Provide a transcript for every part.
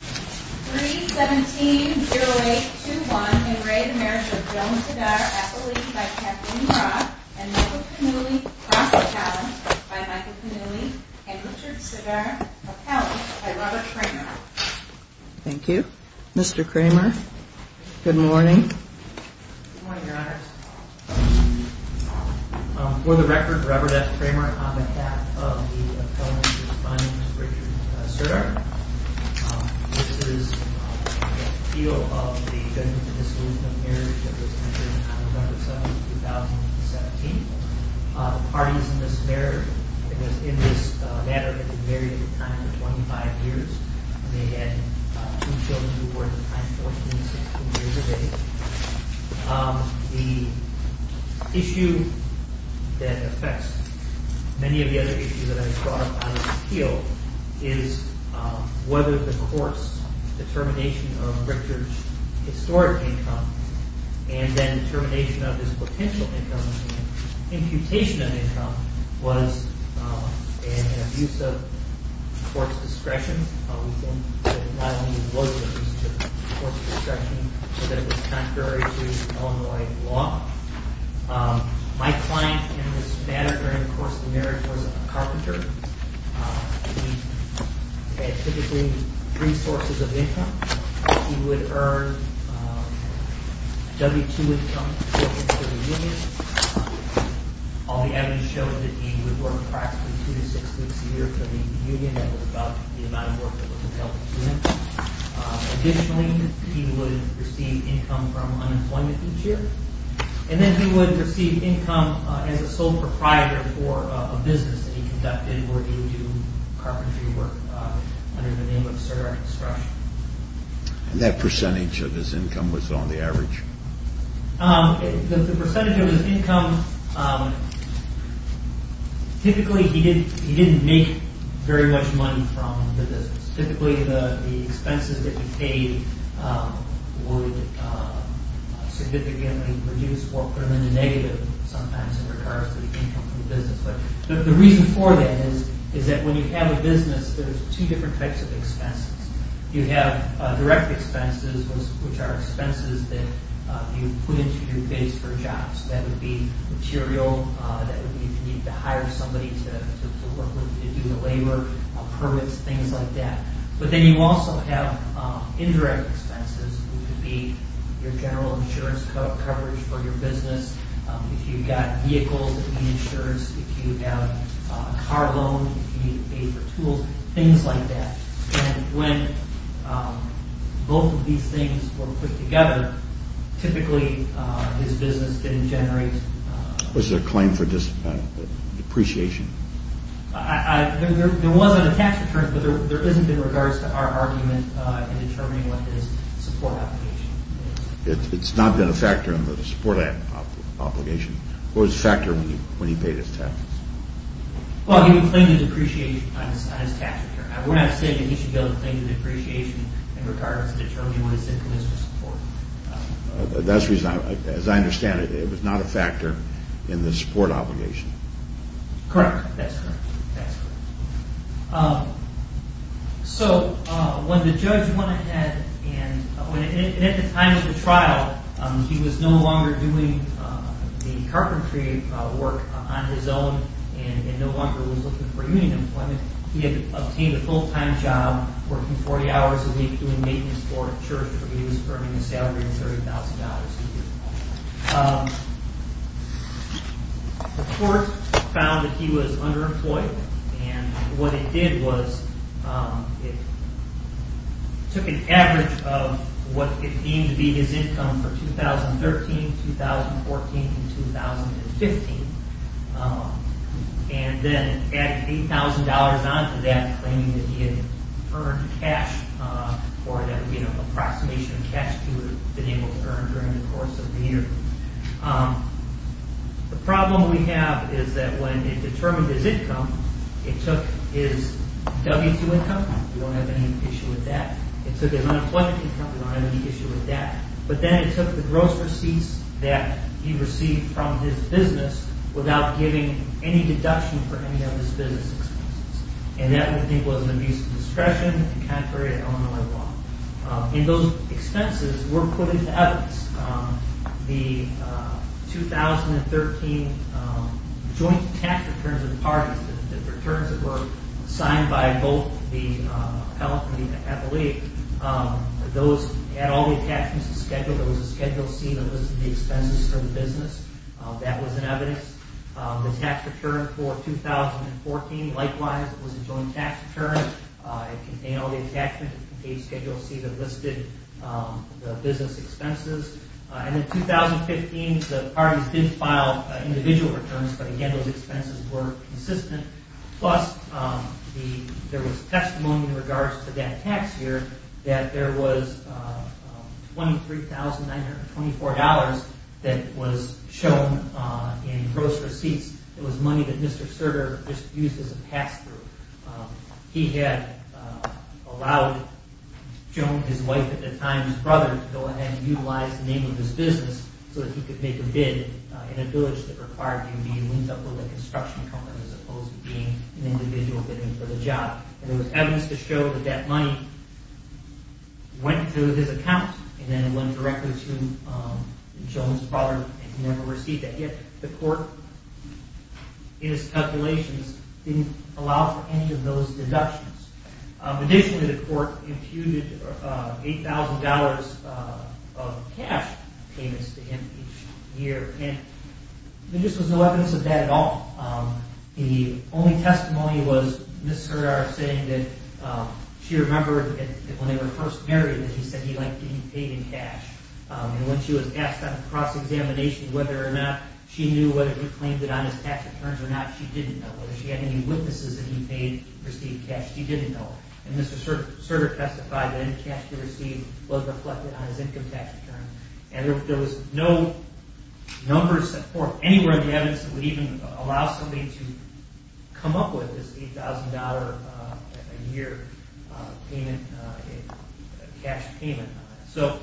3-17-0-8-2-1. In re Marriage of Joan Serdar, Appellate by Kathleen Brock and Michael Cannulli, Cross Appellant by Michael Cannulli and Richard Serdar, Appellant by Robert Kramer. Thank you, Mr. Kramer. Good morning. For the record, Robert F. Kramer on behalf of the Appellant responding to Richard Serdar. This is the appeal of the Judgment of Dissolution of Marriage that was entered on November 7, 2017. The parties in this marriage, in this matter, had been married at the time of 25 years. They had two children who were at the time 14 and 16 years of age. The issue that affects many of the other issues that I have brought up on this appeal is whether the court's determination of Richard's historic income and then determination of his potential income and imputation of income was an abuse of the court's discretion. We think that it not only was an abuse of the court's discretion, but that it was contrary to Illinois law. My client in this matter during the course of the marriage was a carpenter. He had typically three sources of income. He would earn W-2 income for the union. All the evidence shows that he would work approximately two to six weeks a year for the union. That was about the amount of work that was available to him. Additionally, he would receive income from unemployment each year. And then he would receive income as a sole proprietor for a business that he conducted where he would do carpentry work under the name of Serdar construction. And that percentage of his income was on the average? The percentage of his income, typically he didn't make very much money from the business. Typically the expenses that he paid would significantly reduce or put him in the negative sometimes in regards to the income from the business. But the reason for that is that when you have a business, there's two different types of expenses. You have direct expenses, which are expenses that you put into your base for jobs. That would be material that you need to hire somebody to do the labor, permits, things like that. But then you also have indirect expenses, which would be your general insurance coverage for your business. If you've got vehicles, you need insurance. If you have a car loan, you need to pay for tools, things like that. And when both of these things were put together, typically his business didn't generate... Was there a claim for depreciation? There was on the tax returns, but there isn't in regards to our argument in determining what his support obligation is. It's not been a factor in the support obligation? What was the factor when he paid his taxes? Well, he would claim the depreciation on his tax return. We're not saying that he should be able to claim the depreciation in regards to determining what his income is for support. That's the reason. As I understand it, it was not a factor in the support obligation. Correct. That's correct. So when the judge went ahead and at the time of the trial, he was no longer doing the carpentry work on his own and no longer was looking for union employment. He had obtained a full-time job working 40 hours a week doing maintenance for a church where he was earning a salary of $30,000 a year. The court found that he was underemployed. And what it did was it took an average of what it deemed to be his income for 2013, 2014, and 2015. And then added $8,000 on to that claiming that he had earned cash or an approximation of cash he would have been able to earn during the course of the year. The problem we have is that when it determined his income, it took his W-2 income. We don't have any issue with that. It took his unemployment income. We don't have any issue with that. But then it took the gross receipts that he received from his business without giving any deduction for any of his business expenses. And that we think was an abuse of discretion and contrary to Illinois law. And those expenses were put into evidence. The 2013 joint tax returns of the parties, the returns that were signed by both the appellate and the appellee, those had all the attachments and schedules. There was a Schedule C that listed the expenses for the business. That was in evidence. The tax return for 2014, likewise, was a joint tax return. It contained all the attachments. It contained Schedule C that listed the business expenses. And in 2015, the parties did file individual returns, but again, those expenses were consistent. Plus, there was testimony in regards to that tax year that there was $23,924 that was shown in gross receipts. It was money that Mr. Serger just used as a pass-through. He had allowed his wife at the time, his brother, to go ahead and utilize the name of his business so that he could make a bid in a village that required him to be linked up with a construction company as opposed to being an individual bidding for the job. And there was evidence to show that that money went through his account and then it went directly to Jones' father and he never received it. Yet, the court, in its calculations, didn't allow for any of those deductions. Additionally, the court imputed $8,000 of cash payments to him each year. And there just was no evidence of that at all. The only testimony was Ms. Serger saying that she remembered that when they were first married that he said he liked that he paid in cash. And when she was asked on a cross-examination whether or not she knew whether he claimed it on his tax returns or not, she didn't know whether she had any witnesses that he paid received cash. She didn't know. And Ms. Serger testified that any cash he received was reflected on his income tax return. And there was no numbers or anywhere in the evidence that would even allow somebody to come up with this $8,000 a year cash payment. So...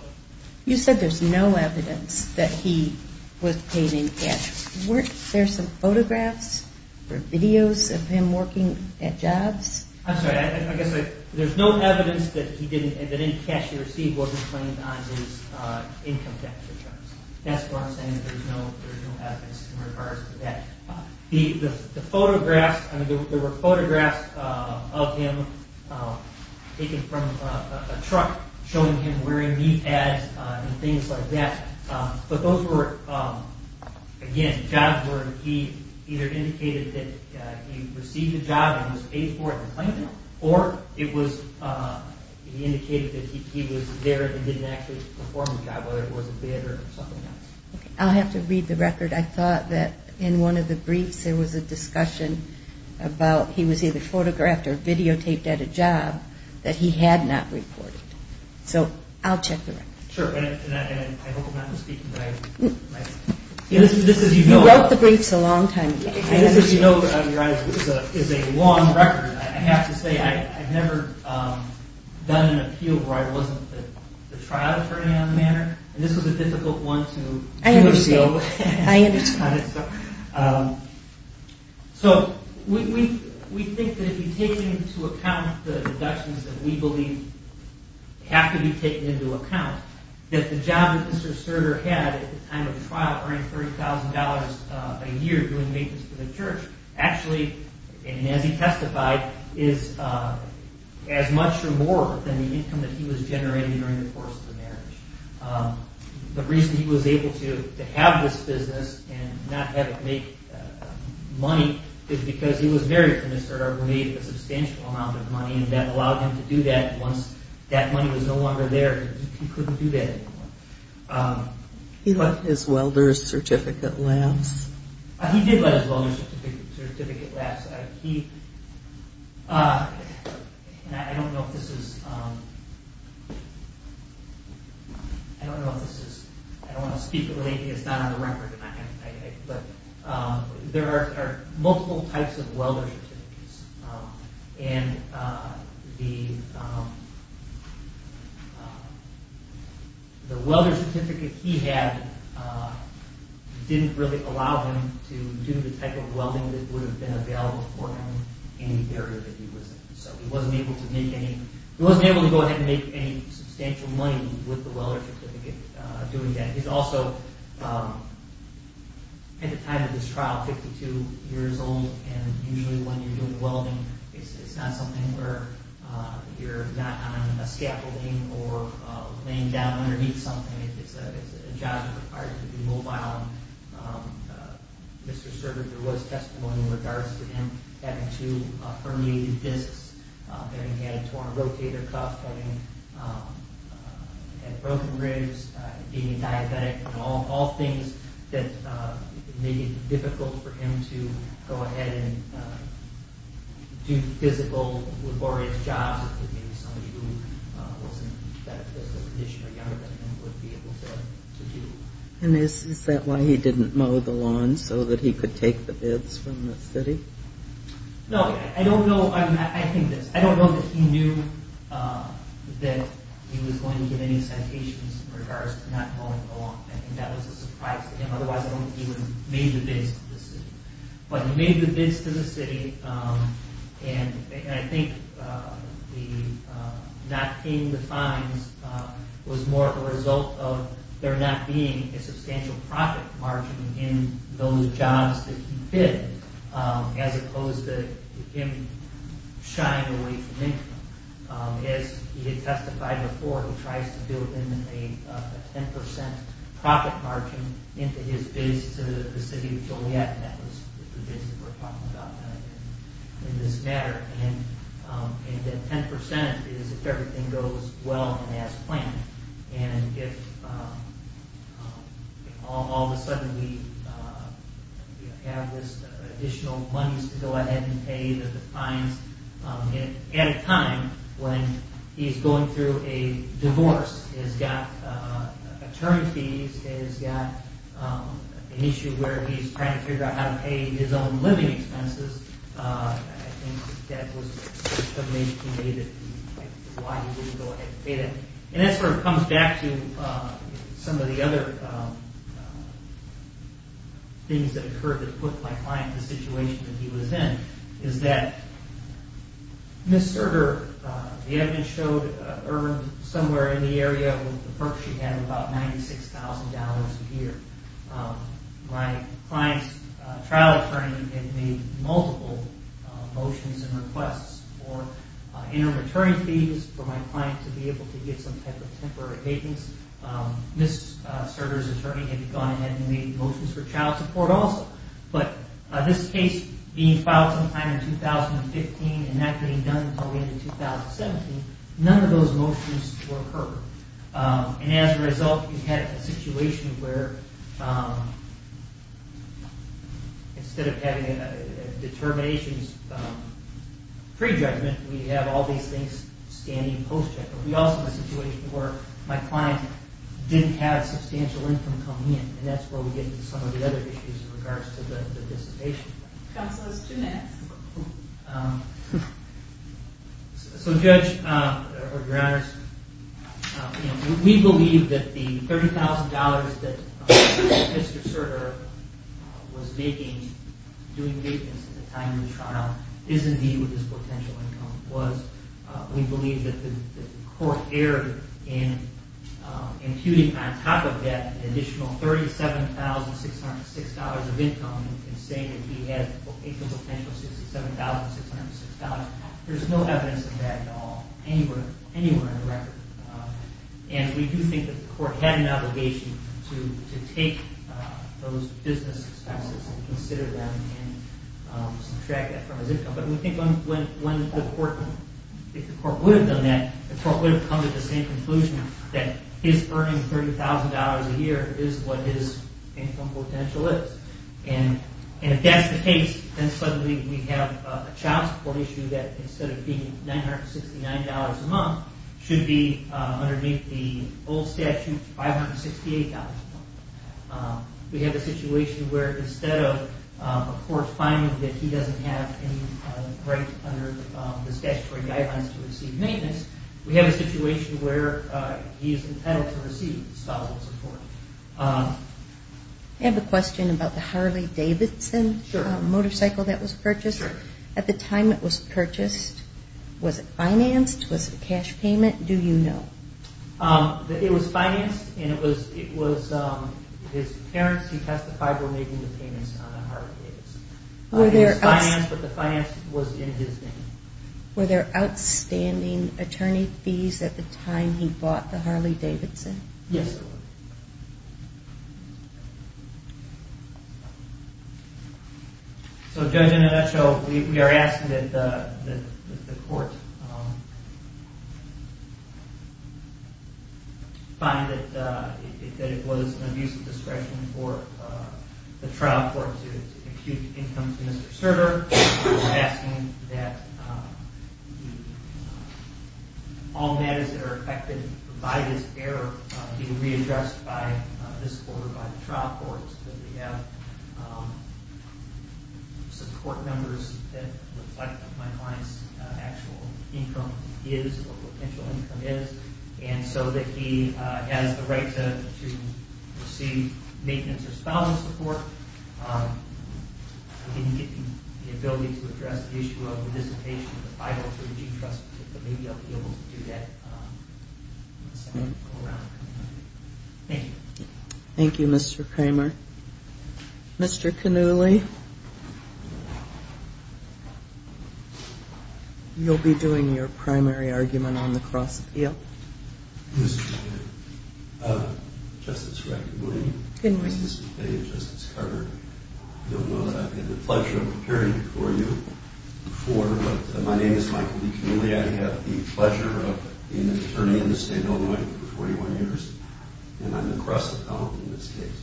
You said there's no evidence that he was paid in cash. Weren't there some photographs or videos of him working at jobs? I'm sorry. I guess there's no evidence that any cash he received wasn't claimed on his income tax returns. That's what I'm saying. There's no evidence in regards to that. The photographs, I mean, there were photographs of him taken from a truck showing him wearing meat hats and things like that. But those were, again, jobs where he either indicated that he received a job and was paid for it and claimed it, or it was indicated that he was there and didn't actually perform the job, whether it was a bid or something else. I'll have to read the record. I thought that in one of the briefs there was a discussion about he was either photographed or videotaped at a job that he had not reported. So I'll check the record. Sure. And I hope I'm not mistaken. You wrote the briefs a long time ago. This, as you know, is a long record. I have to say, I've never done an appeal where I wasn't the trial attorney on the matter, and this was a difficult one to seal. I understand. I understand. So we think that if you take into account the deductions that we believe have to be taken into account, that the job that Mr. Serger had at the time of the trial, earning $30,000 a year doing maintenance for the church, actually, and as he testified, is as much or more than the income that he was generating during the course of the marriage. The reason he was able to have this business and not have it make money is because he was married to Mr. Serger who made a substantial amount of money, and that allowed him to do that once that money was no longer there. He couldn't do that anymore. He let his welder's certificate last. He did let his welder's certificate last. He, and I don't know if this is, I don't want to speak, it's not on the record, but there are multiple types of welder's certificates, and the welder's certificate he had didn't really allow him to do the type of welding that would have been available for him in the area that he was in. So he wasn't able to make any substantial money with the welder's certificate doing that. He's also, at the time of this trial, 52 years old, and usually when you're doing welding, it's not something where you're not on a scaffolding or laying down underneath something. It's a job that requires you to be mobile. Mr. Serger, there was testimony in regards to him having two herniated discs, having had a torn rotator cuff, having had broken ribs, being diabetic, and all things that made it difficult for him to go ahead and do physical, laborious jobs that maybe somebody who was in better physical condition or younger than him would be able to do. And is that why he didn't mow the lawn, so that he could take the bids from the city? No, I don't know. I think this. I don't know that he knew that he was going to get any citations in regards to not mowing the lawn. I think that was a surprise to him, otherwise I don't think he would have made the bids to the city. But he made the bids to the city, and I think the not paying the fines was more of a result of there not being a substantial profit margin in those jobs that he bid, as opposed to him shying away from income. As he had testified before, he tries to build in a 10% profit margin into his bids to the city of Joliet, and that was the bids that were talked about in this matter. And that 10% is if everything goes well and as planned. And if all of a sudden we have this additional money to go ahead and pay the fines, at a time when he's going through a divorce, he's got attorney fees, he's got an issue where he's trying to figure out how to pay his own living expenses, I think that was the reason why he didn't go ahead and pay that. And that sort of comes back to some of the other things that occurred that put my client in the situation that he was in, is that Ms. Serger, the evidence showed, earned somewhere in the area with the perks she had about $96,000 a year. My client's trial attorney had made multiple motions and requests for interim attorney fees for my client to be able to get some type of temporary maintenance. Ms. Serger's attorney had gone ahead and made motions for child support also. But this case being filed sometime in 2015 and not getting done until the end of 2017, none of those motions were heard. And as a result, we've had a situation where instead of having determinations pre-judgment, we have all these things standing post-judgment. We also have a situation where my client didn't have substantial income come in, and that's where we get into some of the other issues in regards to the dissipation. Counsel is two minutes. So Judge, we believe that the $30,000 that Mr. Serger was making doing maintenance at the time of the trial is indeed what his potential income was. We believe that the court erred in imputing on top of that an additional $37,606 of income and saying that he had income potential of $67,606. There's no evidence of that at all anywhere in the record. And we do think that the court had an obligation to take those business expenses and consider them and subtract that from his income. But we think if the court would have done that, the court would have come to the same conclusion that his earning $30,000 a year is what his income potential is. And if that's the case, then suddenly we have a child support issue that, instead of being $969 a month, should be underneath the old statute $568 a month. We have a situation where instead of a court finding that he doesn't have any right under the statutory guidelines to receive maintenance, we have a situation where he is entitled to receive child support. I have a question about the Harley-Davidson motorcycle that was purchased. At the time it was purchased, was it financed? Was it a cash payment? Do you know? It was financed, and it was his parents who testified were making the payments on the Harley-Davidson. It was financed, but the finance was in his name. Were there outstanding attorney fees at the time he bought the Harley-Davidson? Yes. So, Judge, in a nutshell, we are asking that the court find that it was an abuse of discretion for the trial court to compute the income to Mr. Surter. We're asking that all matters that are affected by this error be readdressed by this court or by the trial courts so that we have support numbers that reflect what my client's actual income is, or potential income is, and so that he has the right to receive maintenance or spousal support. I didn't get the ability to address the issue of the dissipation of the 503G trust, but maybe I'll be able to do that in the second round. Thank you. Thank you, Mr. Kramer. Mr. Cannuli, you'll be doing your primary argument on the cross appeal. Mr. Kramer. Justice Rackabilly. Good morning. Mr. Fay and Justice Carter. I don't know if I've had the pleasure of appearing before you before, but my name is Michael B. Cannuli. I have the pleasure of being an attorney in the state of Illinois for 41 years, and I'm the cross appellant in this case.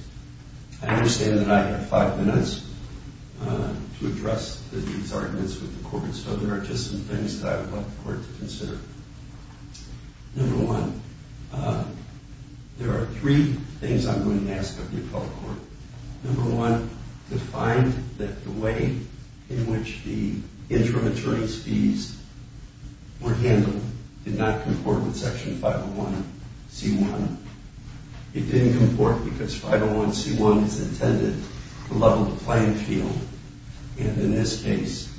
I understand that I have five minutes to address these arguments with the court, so there are just some things that I would like the court to consider. Number one, there are three things I'm going to ask of the appellate court. Number one, to find that the way in which the interim attorney's fees were handled did not comport with Section 501C1. It didn't comport because 501C1 is intended to level the playing field, and in this case,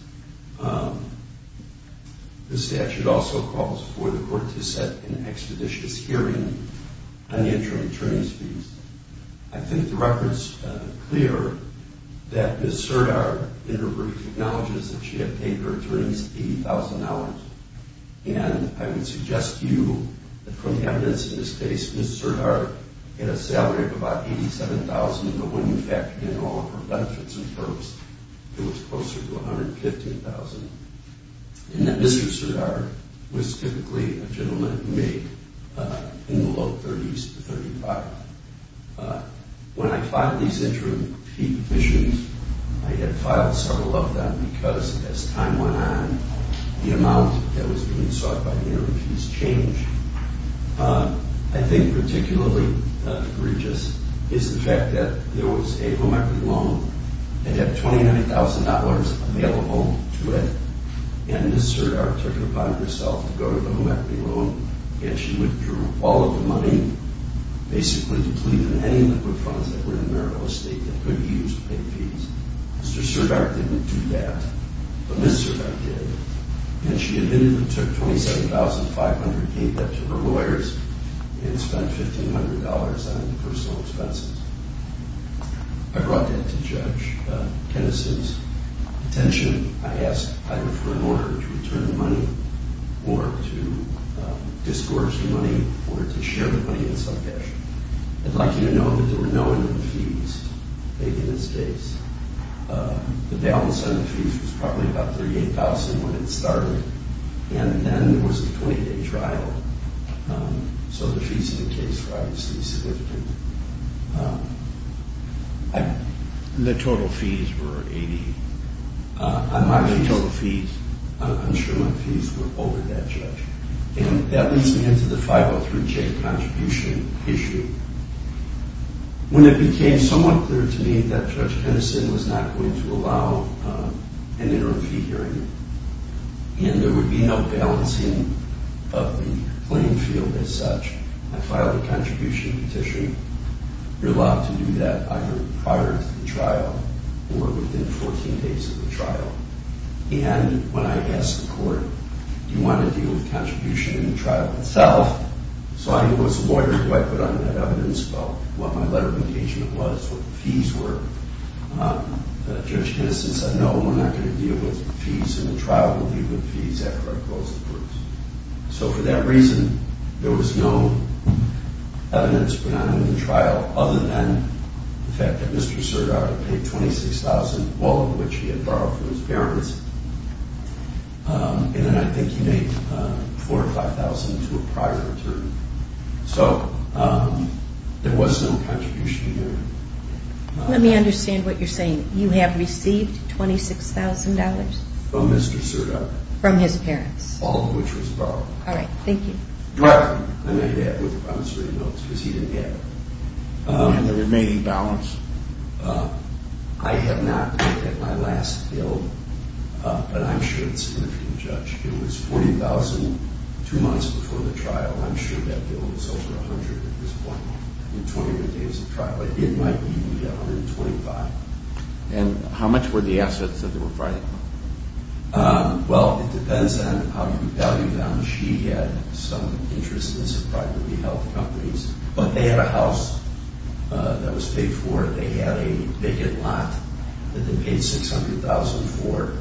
the statute also calls for the court to set an expeditious hearing on the interim attorney's fees. I think the record's clear that Ms. Serdar in her brief acknowledges that she had paid her attorneys $80,000, and I would suggest to you that from the evidence in this case, Ms. Serdar had a salary of about $87,000, but when you factor in all of her benefits and perks, it was closer to $115,000, and that Mr. Serdar was typically a gentleman who made in the low 30s to 35. When I filed these interim fee submissions, I had filed several of them because as time went on, the amount that was being sought by the interim fees changed. I think particularly egregious is the fact that there was a home equity loan, and you had $29,000 available to it, and Ms. Serdar took it upon herself to go to the home equity loan, and she withdrew all of the money, basically depleted any liquid funds that were in AmeriCorps estate that could be used to pay fees. Mr. Serdar didn't do that, but Ms. Serdar did, and she admitted and took $27,500, gave that to her lawyers, and spent $1,500 on personal expenses. I brought that to Judge Kennesaw's attention. I asked either for an order to return the money or to disgorge the money or to share the money in some fashion. I'd like you to know that there were no interim fees made in this case. The balance on the fees was probably about $38,000 when it started, and then there was a 20-day trial, so the fees in the case were obviously significant. The total fees were $80,000. I'm not going to tell the fees. I'm sure my fees were over that, Judge. That leads me into the 503J contribution issue. When it became somewhat clear to me that Judge Kennesaw was not going to allow an interim fee hearing and there would be no balancing of the claim field as such, I filed a contribution petition. You're allowed to do that either prior to the trial or within 14 days of the trial, and when I asked the court, do you want to deal with contribution in the trial itself? So I knew as a lawyer who I put on that evidence about what my letter of engagement was, what the fees were. Judge Kennesaw said, no, we're not going to deal with the fees in the trial. We'll deal with the fees after I close the case. So for that reason, there was no evidence put on in the trial other than the fact that Mr. Cerda paid $26,000, all of which he had borrowed from his parents, and then I think he made $4,000 or $5,000 to a prior attorney. So there was no contribution in there. Let me understand what you're saying. You have received $26,000? From Mr. Cerda. From his parents. All of which was borrowed. All right, thank you. Correct. I made that with the promissory notes because he didn't have it. And the remaining balance, I have not looked at my last bill, but I'm sure it's significant, Judge. It was $40,000 two months before the trial. I'm sure that bill was over $100,000 at this point, in 24 days of trial. It might be $125,000. And how much were the assets that were provided? Well, it depends on how you value balance. He had some interest in some private health companies, but they had a house that was paid for. They had a vacant lot that they paid $600,000 for.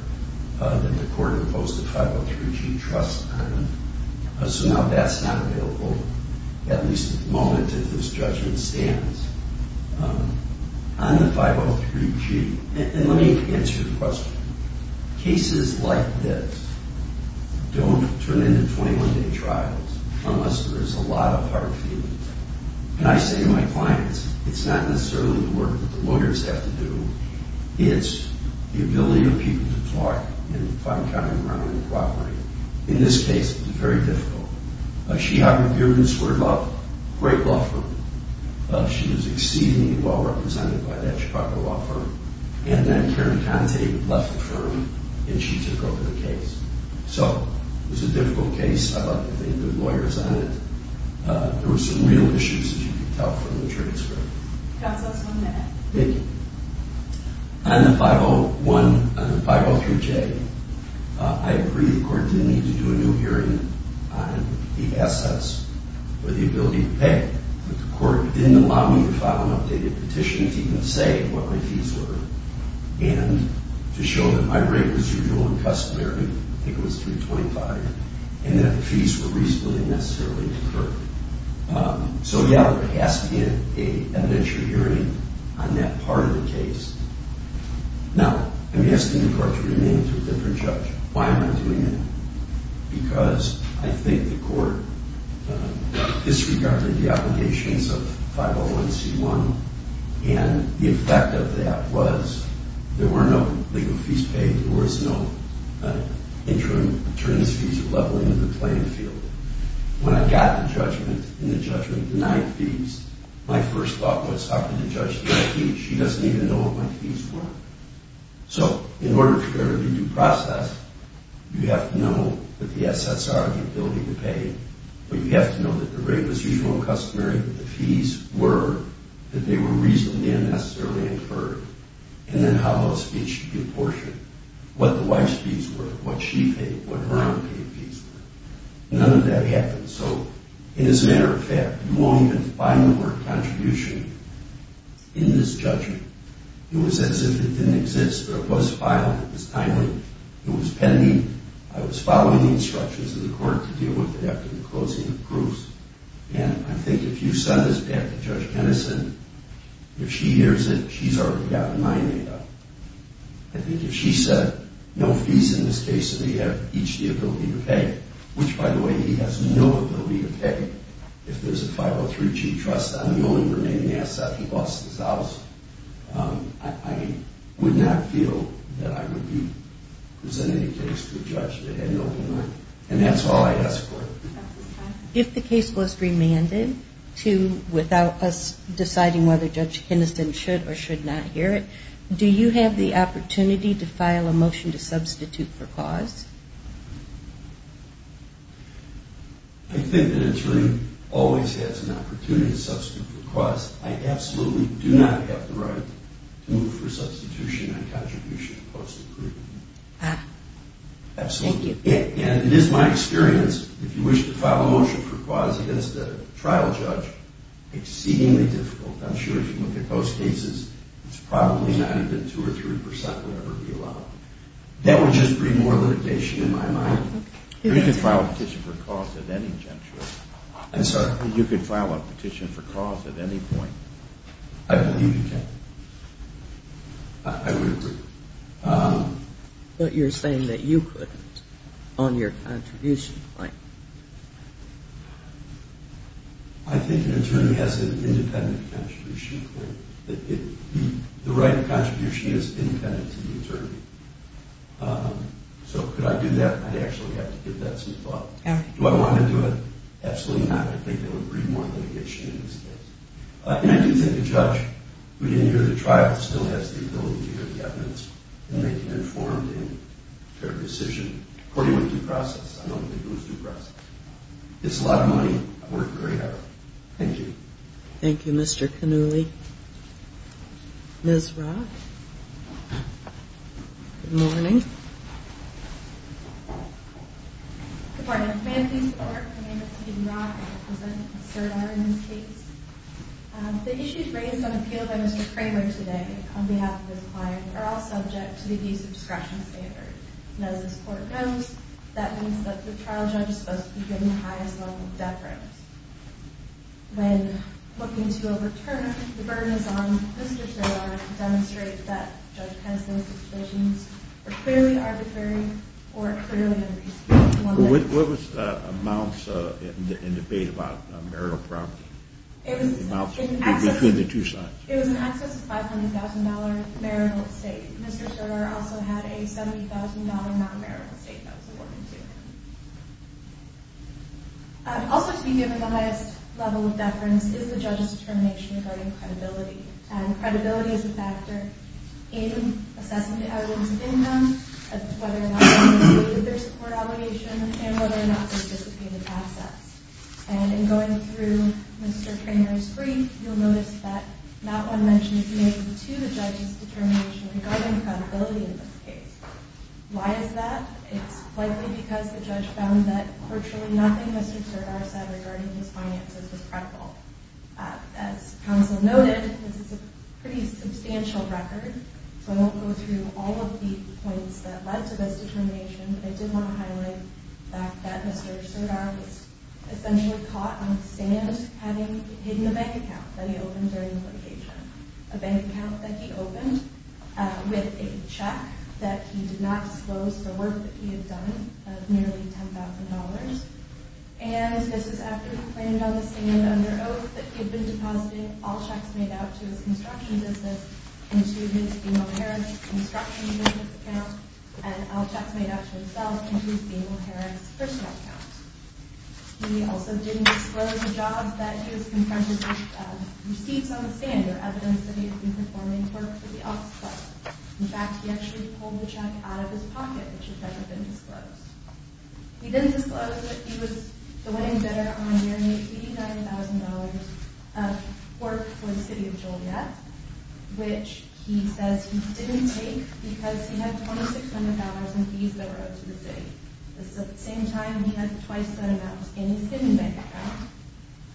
And the court imposed a 503G trust on it. So now that's not available, at least at the moment that this judgment stands, on the 503G. And let me answer the question. Cases like this don't turn into 21-day trials unless there is a lot of hard feelings. And I say to my clients, it's not necessarily the work that the lawyers have to do. It's the ability of people to talk and find common ground and cooperate. In this case, it was very difficult. She had an appearance for a great law firm. She was exceedingly well represented by that Chicago law firm. And then Karen Conte left the firm and she took over the case. So it was a difficult case. I thought they had good lawyers on it. There were some real issues, as you can tell from the transcript. Counsel, one minute. Thank you. On the 501, on the 503J, I agree the court didn't need to do a new hearing on the assets or the ability to pay. But the court didn't allow me to file an updated petition to even say what my fees were and to show that my rate was usual and customary. I think it was 325. And that the fees were reasonably necessarily deferred. So, yeah, there has to be an evidentiary hearing on that part of the case. Now, I'm asking the court to remain to a different judge. Why am I doing that? Because I think the court disregarded the obligations of 501C1. And the effect of that was there were no legal fees paid. There was no interim attorneys' fees or leveling of the playing field. When I got the judgment, and the judgment denied fees, my first thought was, how can the judge deny fees? She doesn't even know what my fees were. So in order to go to the due process, you have to know what the assets are and the ability to pay. But you have to know that the rate was usual and customary, that the fees were, that they were reasonably and necessarily inferred. And then how those fees should be apportioned. What the wife's fees were, what she paid, what her own paid fees were. None of that happened. So, as a matter of fact, you won't even find the word contribution in this judgment. It was as if it didn't exist. But it was filed. It was timely. It was pending. I was following the instructions of the court to deal with it after the closing of proofs. And I think if you send this back to Judge Kennison, if she hears it, she's already got my name up. I think if she said, no fees in this case, so that you have each the ability to pay, which, by the way, he has no ability to pay. If there's a 503G trust, I'm the only remaining asset. He lost his house. I would not feel that I would be presenting a case to a judge that had no remand. And that's all I ask for. If the case was remanded without us deciding whether Judge Kennison should or should not hear it, do you have the opportunity to file a motion to substitute for cause? I think an attorney always has an opportunity to substitute for cause. I absolutely do not have the right to move for substitution on contribution opposed to proven. Ah. Absolutely. Thank you. And it is my experience, if you wish to file a motion for cause against a trial judge, exceedingly difficult. I'm sure if you look at most cases, it's probably not even 2% or 3% would ever be allowed. That would just bring more limitation in my mind. You could file a petition for cause at any juncture. I'm sorry? You could file a petition for cause at any point. I believe you can. I would agree. But you're saying that you couldn't on your contribution claim. I think an attorney has an independent contribution claim. The right of contribution is independent to the attorney. So could I do that? I'd actually have to give that some thought. Do I want to do it? Absolutely not. I think that would bring more limitation in this case. And I do think a judge who didn't hear the trial still has the ability to hear the evidence and make an informed and fair decision. According to the due process. I don't think it was due process. It's a lot of money. I worked very hard. Thank you. Thank you, Mr. Cannulli. Ms. Rock? Good morning. Good morning. My name is Amy Rock. The issues raised on appeal by Mr. Kramer today on behalf of his client are all subject to the abuse of discretion standard. And as this court knows, that means that the trial judge is supposed to be given the highest level of deference. When looking to overturn, the burden is on Mr. Kramer to demonstrate that Judge Cannulli's decisions were clearly arbitrary or clearly unreasonable. What was the amounts in the debate about marital property? The amounts between the two sides. It was an excess of $500,000 marital estate. Mr. Kramer also had a $70,000 non-marital estate that was awarded to him. Also to be given the highest level of deference is the judge's determination regarding credibility. And credibility is a factor in assessing the evidence of income, whether or not there's a support obligation, and whether or not there's dissipated assets. And in going through Mr. Kramer's brief, you'll notice that not one mention is made to the judge's determination regarding credibility in this case. Why is that? It's likely because the judge found that virtually nothing Mr. Kramer said regarding his finances was credible. As counsel noted, this is a pretty substantial record, so I won't go through all of the points that led to this determination, but I did want to highlight the fact that Mr. Serdar was essentially caught on the stand having hidden a bank account that he opened during the litigation. A bank account that he opened with a check that he did not disclose the work that he had done of nearly $10,000. And this is after he claimed on the stand under oath that he had been depositing all checks made out to his construction business into his female parent's construction business account, and all checks made out to himself into his female parent's personal account. He also didn't disclose the jobs that he was confronted with, receipts on the stand or evidence that he had been performing work for the office club. In fact, he actually pulled the check out of his pocket, which had never been disclosed. He didn't disclose that he was the winning bidder on nearly $89,000 of work for the city of Joliet, which he says he didn't take because he had $2,600 in fees that were owed to the city. At the same time, he had twice that amount in his hidden bank account,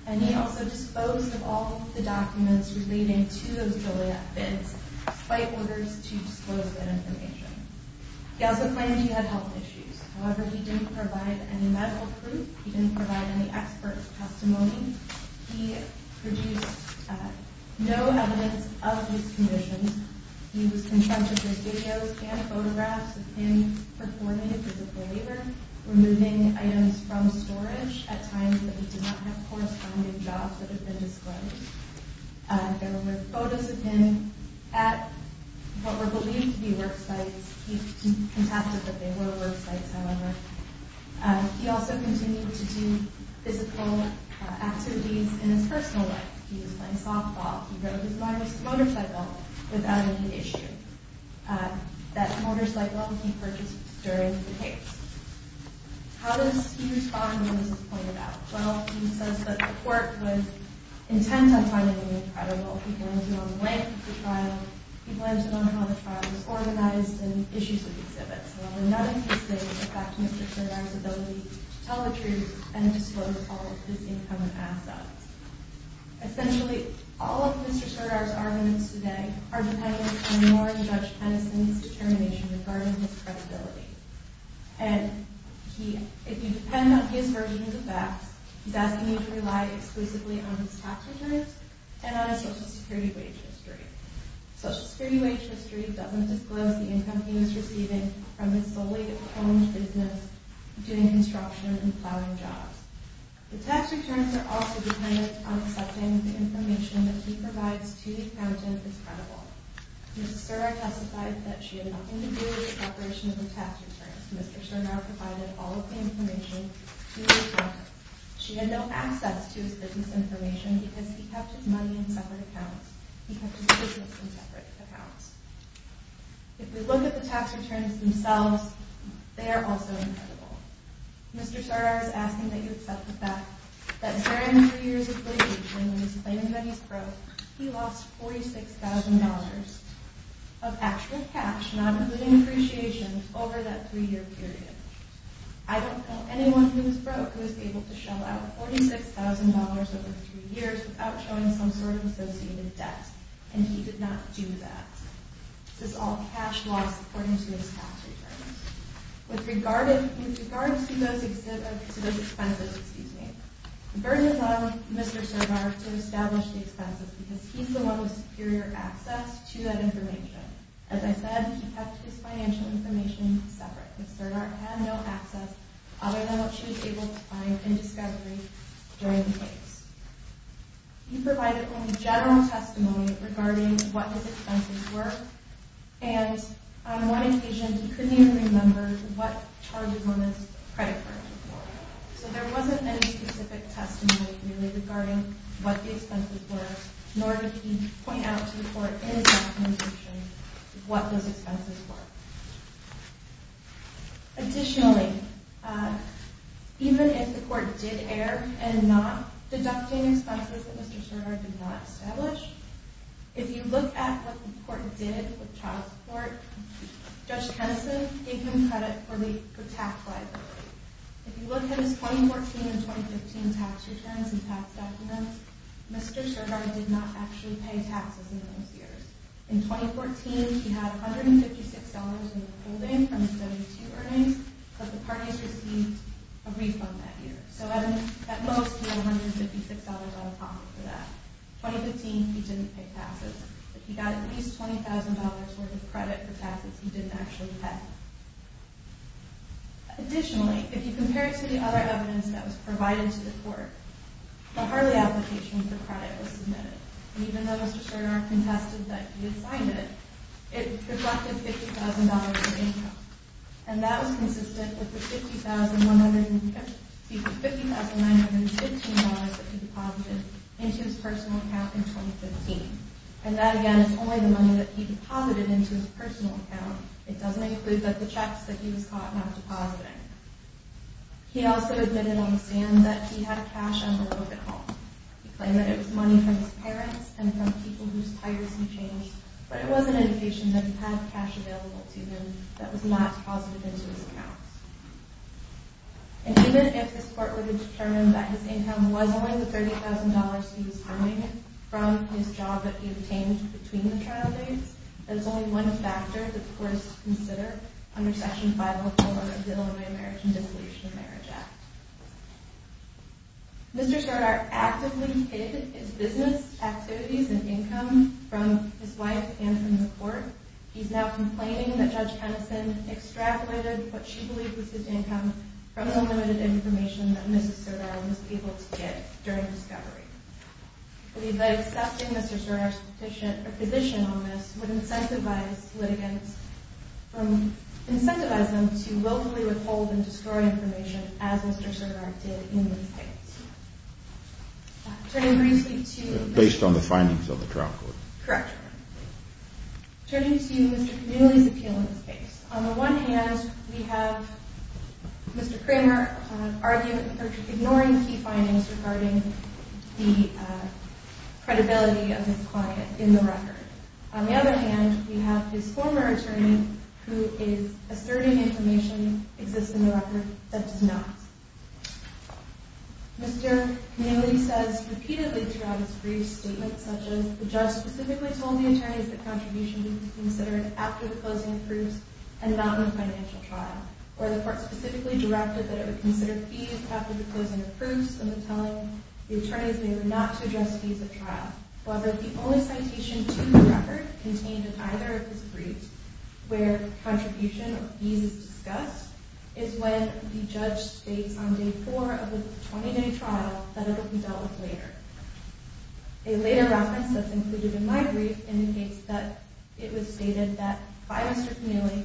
and he also disposed of all of the documents relating to those Joliet bids despite orders to disclose that information. He also claimed he had health issues. However, he didn't provide any medical proof. He didn't provide any expert testimony. He produced no evidence of these conditions. He was confronted with videos and photographs of him performing a physical labor, removing items from storage at times that he did not have corresponding jobs that had been disclosed. There were photos of him at what were believed to be work sites. He contested that they were work sites, however. He also continued to do physical activities in his personal life. He was playing softball. He rode his mother's motorcycle without any issue. That motorcycle he purchased during the case. How does he respond to this point about? Well, he says that the court was intent on finding him credible. He claims to know the length of the trial. He claims to know how the trial was organized and issues with exhibits. However, none of these things affect Mr. Serdar's ability to tell the truth and disclose all of his income and assets. Essentially, all of Mr. Serdar's arguments today are dependent more on Judge Penison's determination regarding his credibility. If you depend on his version of the facts, he's asking you to rely exclusively on his tax returns and on his Social Security wage history. Social Security wage history doesn't disclose the income he was receiving from his solely-owned business doing construction and plowing jobs. The tax returns are also dependent on accepting the information that he provides to the accountant as credible. Mr. Serdar testified that she had nothing to do with the preparation of the tax returns. Mr. Serdar provided all of the information to the accountant. She had no access to his business information because he kept his money in separate accounts. He kept his business in separate accounts. If we look at the tax returns themselves, they are also incredible. Mr. Serdar is asking that you accept the fact that during the three years of litigation when he was claiming that he was broke, he lost $46,000 of actual cash, not including appreciation, over that three-year period. I don't know anyone who was broke who was able to shell out $46,000 over three years without showing some sort of associated debt, and he did not do that. This is all cash loss according to his tax returns. With regard to those expenses, the burden is on Mr. Serdar to establish the expenses because he's the one with superior access to that information. As I said, he kept his financial information separate because Serdar had no access other than what she was able to find in discovery during the case. He provided only general testimony regarding what his expenses were, and on one occasion he couldn't even remember what charges on his credit cards were. So there wasn't any specific testimony really regarding what the expenses were, nor did he point out to the court in his documentation what those expenses were. Additionally, even if the court did err in not deducting expenses that Mr. Serdar did not establish, if you look at what the court did with child support, Judge Kennison gave him credit for tax liability. If you look at his 2014 and 2015 tax returns and tax documents, Mr. Serdar did not actually pay taxes in those years. In 2014, he had $156 in the holding from his W-2 earnings, but the parties received a refund that year. So at most, he had $156 out of pocket for that. In 2015, he didn't pay taxes. If he got at least $20,000 worth of credit for taxes, he didn't actually pay. Additionally, if you compare it to the other evidence that was provided to the court, the Harley application for credit was submitted. And even though Mr. Serdar contested that he had signed it, it reflected $50,000 in income. And that was consistent with the $50,915 that he deposited into his personal account in 2015. And that, again, is only the money that he deposited into his personal account. It doesn't include the checks that he was caught not depositing. He also admitted on the stand that he had cash on the road at home. He claimed that it was money from his parents and from people whose tires he changed, but it was an indication that he had cash available to him that was not deposited into his account. And even if this court would have determined that his income was only the $30,000 he was earning from his job that he obtained between the trial dates, that is only one factor that the court is to consider under Section 504 of the Illinois American Dissolution of Marriage Act. Mr. Serdar actively hid his business activities and income from his wife and from the court. He's now complaining that Judge Hennison extrapolated what she believed was his income from unlimited information that Mrs. Serdar was able to get during discovery. I believe that accepting Mr. Serdar's petition or position on this would incentivize litigants from incentivizing them to willfully withhold and destroy information as Mr. Serdar did in this case. Turning briefly to... Based on the findings of the trial court. Correct. Turning to Mr. Camilli's appeal in this case. On the one hand, we have Mr. Cramer arguing for ignoring key findings regarding the credibility of his client in the record. On the other hand, we have his former attorney who is asserting information exists in the record that does not. Mr. Camilli says repeatedly throughout his brief statement such as, the judge specifically told the attorneys that contributions would be considered after the closing of proofs and not in a financial trial. Or the court specifically directed that it would consider fees after the closing of proofs and was telling the attorneys they were not to address fees at trial. However, the only citation to the record contained in either of his briefs where contribution or fees is discussed is when the judge states on day four of the 20-day trial that it would be dealt with later. A later reference that's included in my brief indicates that it was stated that by Mr. Camilli,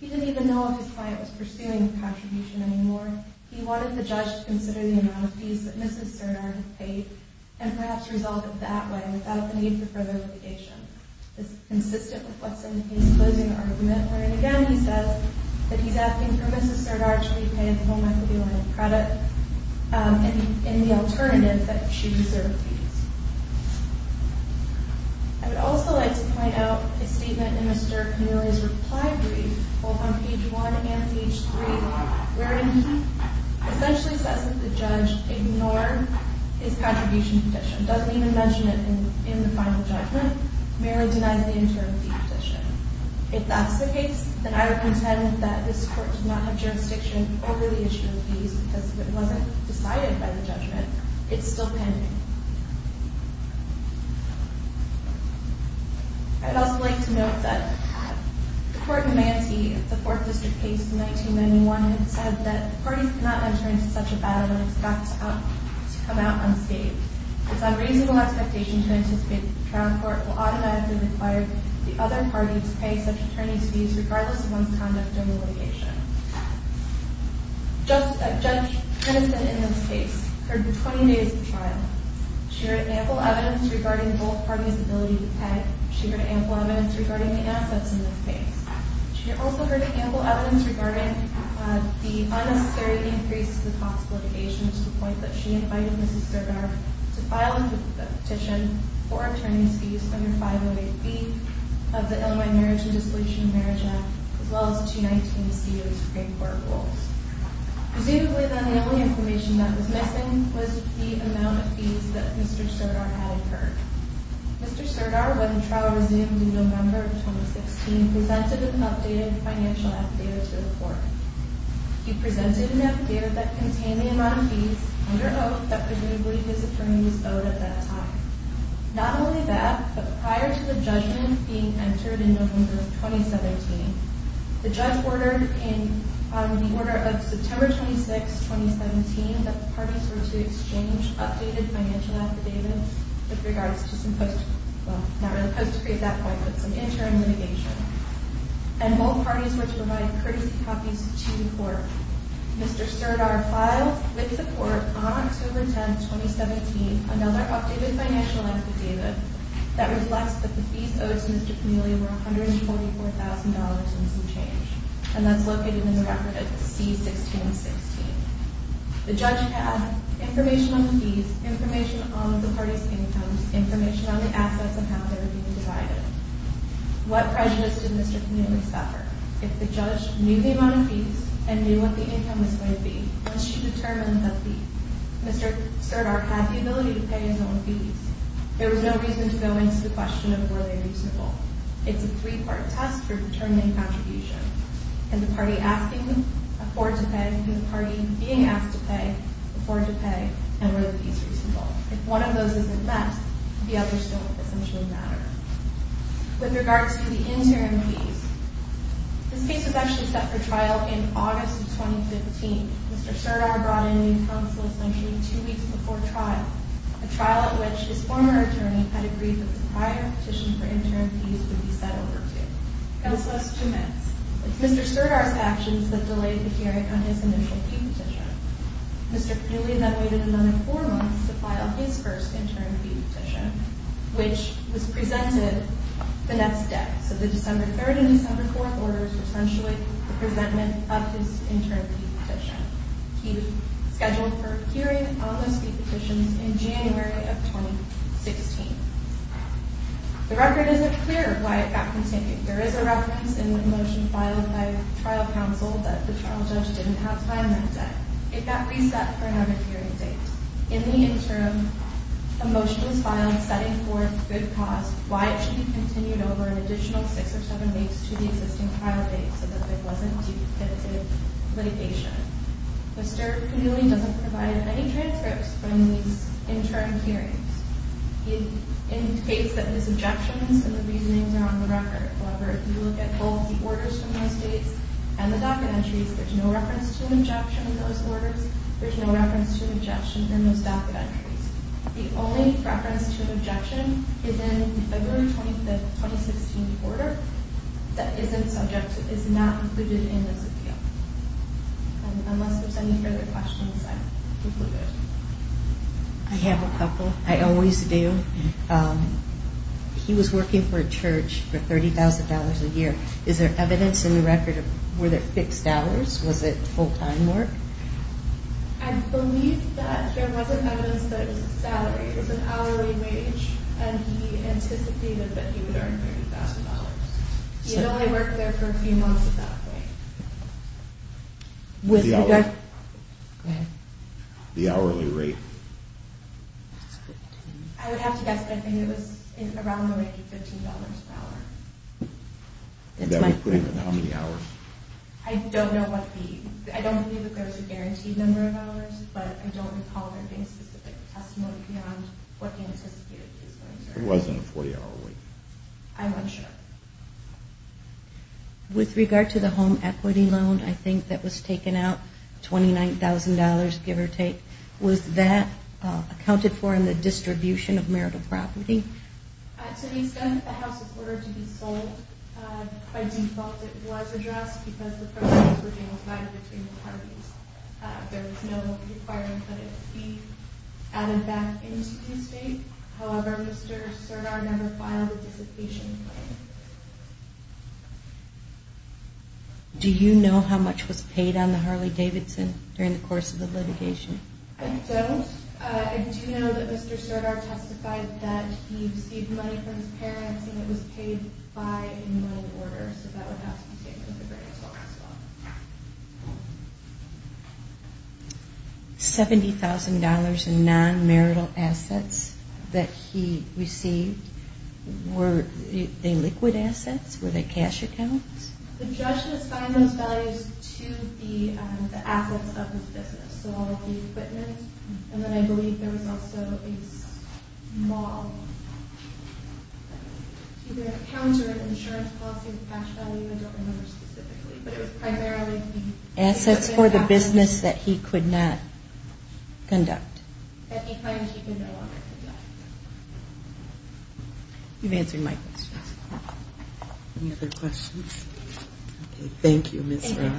he didn't even know if his client was pursuing a contribution anymore. He wanted the judge to consider the amount of fees that Mrs. Serdar had paid and perhaps resolve it that way without the need for further litigation. This is consistent with what's in his closing argument wherein again he says that he's asking for Mrs. Serdar to repay his home equity line of credit in the alternative that she deserves fees. I would also like to point out a statement in Mr. Camilli's reply brief both on page one and page three wherein he essentially says that the judge ignored his contribution petition, doesn't even mention it in the final judgment, merely denies the interim fee petition. If that's the case, then I would contend that this court did not have jurisdiction over the issue of fees because if it wasn't decided by the judgment, it's still pending. I would also like to note that the court in Mantee, the fourth district case in 1991, had said that the parties cannot enter into such a battle and expect to come out unscathed. It's unreasonable expectation to anticipate that the trial court will automatically require the other party to pay such attorney's fees regardless of one's conduct during the litigation. Judge Tennyson in this case heard for 20 days of trial. She heard ample evidence regarding both parties' ability to pay. She heard ample evidence regarding the assets in this case. She also heard ample evidence regarding the unnecessary increase to the cost of litigation to the point that she invited Mrs. Serdar to file a petition for attorney's fees under 508B of the Illinois Marriage and Dissolution of Marriage Act, as well as 219C of the Supreme Court Rules. Presumably, then, the only information that was missing was the amount of fees that Mr. Serdar had incurred. Mr. Serdar, when the trial resumed in November of 2016, presented an updated financial affidavit to the court. He presented an affidavit that contained the amount of fees under oath that presumably his attorney was owed at that time. Not only that, but prior to the judgment being entered in November of 2017, the judge ordered in the order of September 26, 2017, that the parties were to exchange updated financial affidavits with regards to some post- well, not really post-decree at that point, but some interim litigation. And both parties were to provide courtesy copies to the court. Mr. Serdar filed, with support, on October 10, 2017, another updated financial affidavit that reflects that the fees owed to Mr. Camilli were $144,000 and some change. And that's located in the record of C-1616. The judge had information on the fees, information on the parties' incomes, information on the assets and how they were being divided. What prejudice did Mr. Camilli suffer? If the judge knew the amount of fees and knew what the income was going to be, must she determine the fee? Mr. Serdar had the ability to pay his own fees. There was no reason to go into the question of were they reasonable. It's a three-part test for determining contribution. Can the party asking afford to pay? Can the party being asked to pay afford to pay? And were the fees reasonable? If one of those isn't met, the others don't essentially matter. With regard to the interim fees, this case was actually set for trial in August of 2015. Mr. Serdar brought in new counsel as mentioned two weeks before trial, a trial at which his former attorney had agreed that the prior petition for interim fees would be set over to. Counsel has two minutes. It's Mr. Serdar's actions that delayed the hearing on his initial fee petition. Mr. Camilli then waited another four months to file his first interim fee petition, which was presented the next day. So the December 3rd and December 4th orders were essentially the presentment of his interim fee petition. He was scheduled for hearing on those fee petitions in January of 2016. The record isn't clear why it got continued. There is a reference in the motion filed by trial counsel that the trial judge didn't have time that day. It got reset for another hearing date. In the interim, a motion was filed setting forth good cause, why it should be continued over an additional six or seven weeks to the existing trial date so that there wasn't duplicative litigation. Mr. Camilli doesn't provide any transcripts from these interim hearings. He indicates that his objections and the reasonings are on the record. However, if you look at both the orders from those dates and the docket entries, there's no reference to an objection in those orders. There's no reference to an objection in those docket entries. The only reference to an objection is in the February 25th, 2016 order that isn't subject, is not included in this appeal. Unless there's any further questions, I'm concluded. I have a couple. I always do. He was working for a church for $30,000 a year. Is there evidence in the record? Were there fixed hours? Was it full-time work? I believe that there wasn't evidence that it was a salary. It was an hourly wage, and he anticipated that he would earn $30,000. He had only worked there for a few months at that point. The hourly rate? I would have to guess, but I think it was around the rate of $15 an hour. That would put him in how many hours? I don't know. I don't believe that there's a guaranteed number of hours, but I don't recall there being specific testimony beyond what he anticipated he was going to earn. It wasn't a 40-hour week. I'm unsure. With regard to the home equity loan, I think that was taken out, $29,000, give or take. Was that accounted for in the distribution of marital property? To an extent, the house was ordered to be sold. By default, it was addressed because the property was being divided between the parties. There was no requirement that it be added back into the estate. However, Mr. Serdar never filed a dissipation claim. Do you know how much was paid on the Harley-Davidson during the course of the litigation? I don't. I do know that Mr. Serdar testified that he received money from his parents and it was paid by an enrolled order, so that would have to be taken into account as well. $70,000 in non-marital assets that he received, were they liquid assets? Were they cash accounts? The judge assigned those values to the assets of his business, and then I believe there was also a small counter-insurance policy with cash value. I don't remember specifically, but it was primarily the assets for the business that he could not conduct. You've answered my questions. Any other questions? Thank you, Ms. Wright.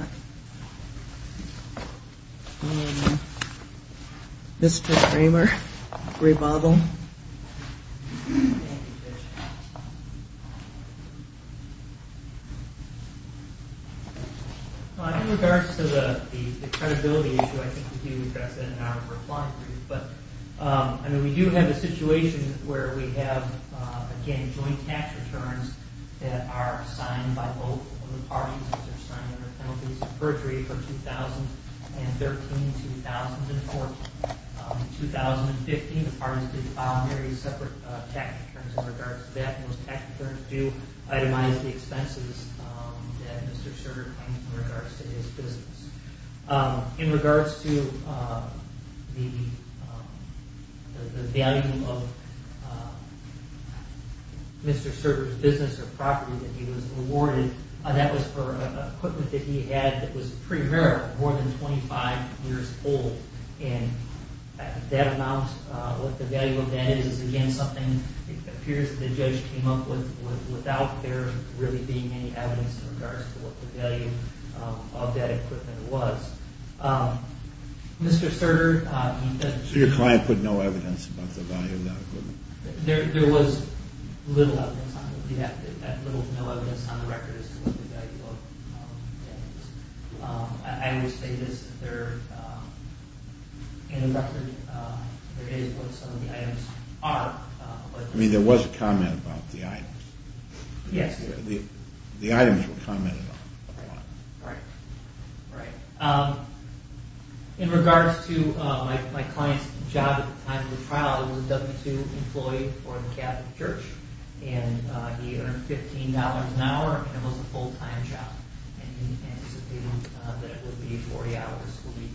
Mr. Kramer, Graybottle. In regards to the credibility issue, I think we can address that in our reply brief, but we do have a situation where we have, again, joint cash returns that are signed by both of the parties. Those are signed under penalties of perjury for 2013, 2014. In 2015, the parties did file very separate tax returns in regards to that, and those tax returns do itemize the expenses that Mr. Serdar claims in regards to his business. In regards to the value of Mr. Serdar's business or property that he was awarded, that was for equipment that he had that was pretty rare, more than 25 years old, and that amount, what the value of that is, again, something it appears that the judge came up with without there really being any evidence in regards to what the value of that equipment was. Mr. Serdar... So your client put no evidence about the value of that equipment? There was little evidence on it. That little to no evidence on the record is what the value of that is. I would say this. In the record, there is what some of the items are. I mean, there was a comment about the items. Yes. The items were commented on. Right, right. In regards to my client's job at the time of the trial, he was a W-2 employee for the Catholic Church, and he earned $15 an hour, and it was a full-time job. And he said that it would be 40 hours a week,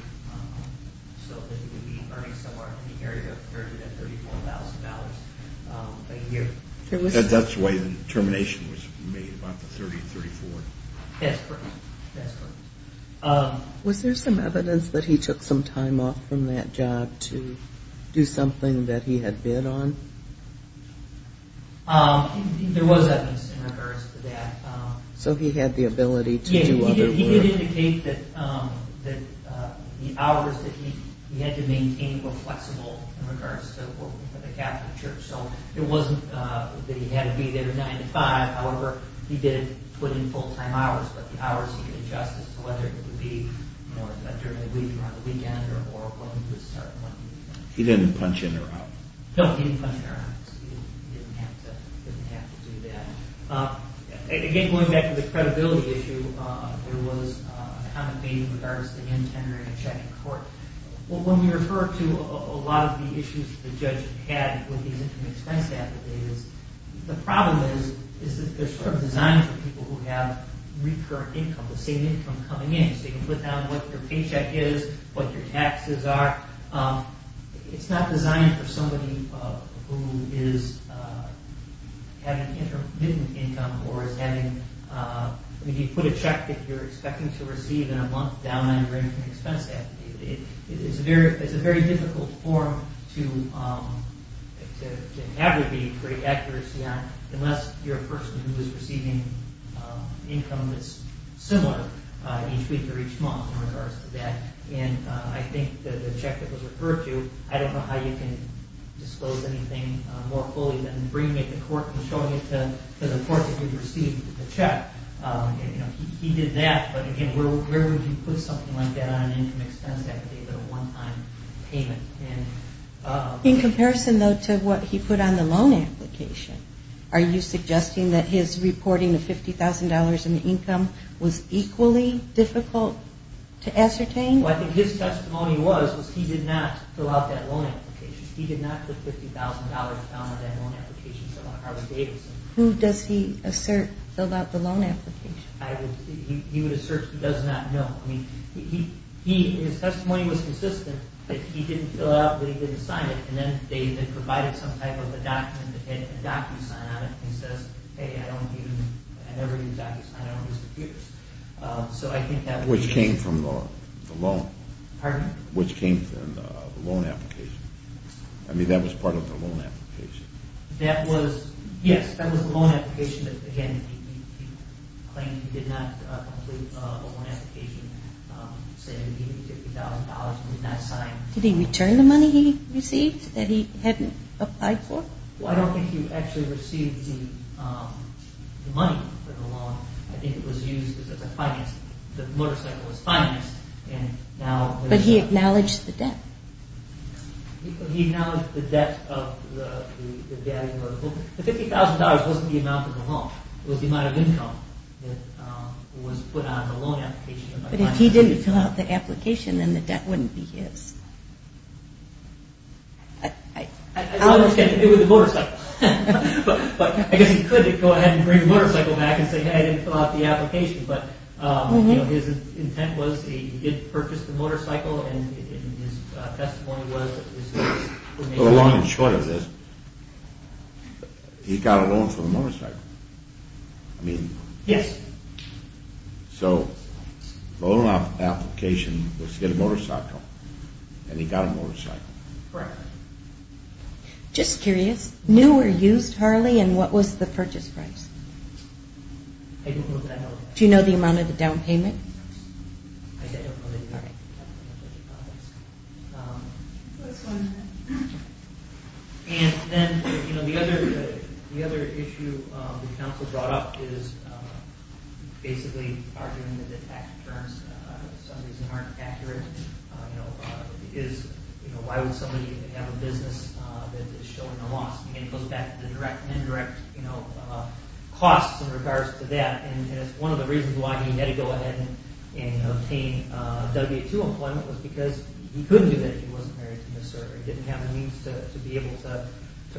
so that he would be earning somewhere in the area of $34,000 a year. That's the way the determination was made, about the $30,000, $34,000. That's correct. Was there some evidence that he took some time off from that job to do something that he had bid on? There was evidence in regards to that. So he had the ability to do other work. He did indicate that the hours that he had to maintain were flexible in regards to the Catholic Church. So it wasn't that he had to be there 9 to 5. However, he did put in full-time hours, but the hours he could adjust as to whether it would be during the week or on the weekend or when he would start working. He didn't punch in or out? No, he didn't punch in or out. He didn't have to do that. Again, going back to the credibility issue, there was a comment made in regards to him entering and checking court. When we refer to a lot of the issues the judge had with these interim expense affidavits, the problem is that they're sort of designed for people who have recurrent income, the same income coming in. So you can put down what your paycheck is, what your taxes are. It's not designed for somebody who is having intermittent income or is having – if you put a check that you're expecting to receive in a month down on your interim expense affidavit, it's a very difficult form to have a great accuracy on unless you're a person who is receiving income that's similar each week or each month in regards to that. I think the check that was referred to, I don't know how you can disclose anything more fully than bringing it to court and showing it to the court that you've received the check. He did that, but again, where would you put something like that on an income expense affidavit, a one-time payment? In comparison, though, to what he put on the loan application, are you suggesting that his reporting of $50,000 in the income was equally difficult to ascertain? Well, I think his testimony was he did not fill out that loan application. He did not put $50,000 down on that loan application Who does he assert filled out the loan application? He would assert he does not know. I mean, his testimony was consistent that he didn't fill it out, but he didn't sign it, and then they provided some type of a document that had a docu-sign on it that says, hey, I don't use – I never use a docu-sign on these computers. Which came from the loan. Pardon? Which came from the loan application. I mean, that was part of the loan application. That was – yes, that was the loan application, but again, he claimed he did not complete a loan application, saying he needed $50,000 and did not sign. Did he return the money he received that he hadn't applied for? Well, I don't think he actually received the money for the loan. I think it was used as a finance – the motorcycle was financed, and now – But he acknowledged the debt. He acknowledged the debt of the daddy motor home. The $50,000 wasn't the amount of the loan. It was the amount of income that was put on the loan application. But if he didn't fill out the application, then the debt wouldn't be his. I don't understand. It was the motorcycle. But I guess he could go ahead and bring the motorcycle back and say, hey, I didn't fill out the application, but his intent was he did purchase the motorcycle, and his testimony was – Long and short of this, he got a loan for the motorcycle. I mean – Yes. So the loan application was to get a motorcycle, and he got a motorcycle. Correct. Just curious, new or used Harley, and what was the purchase price? I don't know that. Do you know the amount of the down payment? I don't know the amount of the down payment. And then the other issue the counsel brought up is basically arguing that the tax returns for some reason aren't accurate. Why would somebody have a business that is showing a loss? Again, it goes back to the direct and indirect costs in regards to that. And it's one of the reasons why he had to go ahead and obtain W-2 employment was because he couldn't do that if he wasn't married to Ms. Serger. He didn't have the means to be able to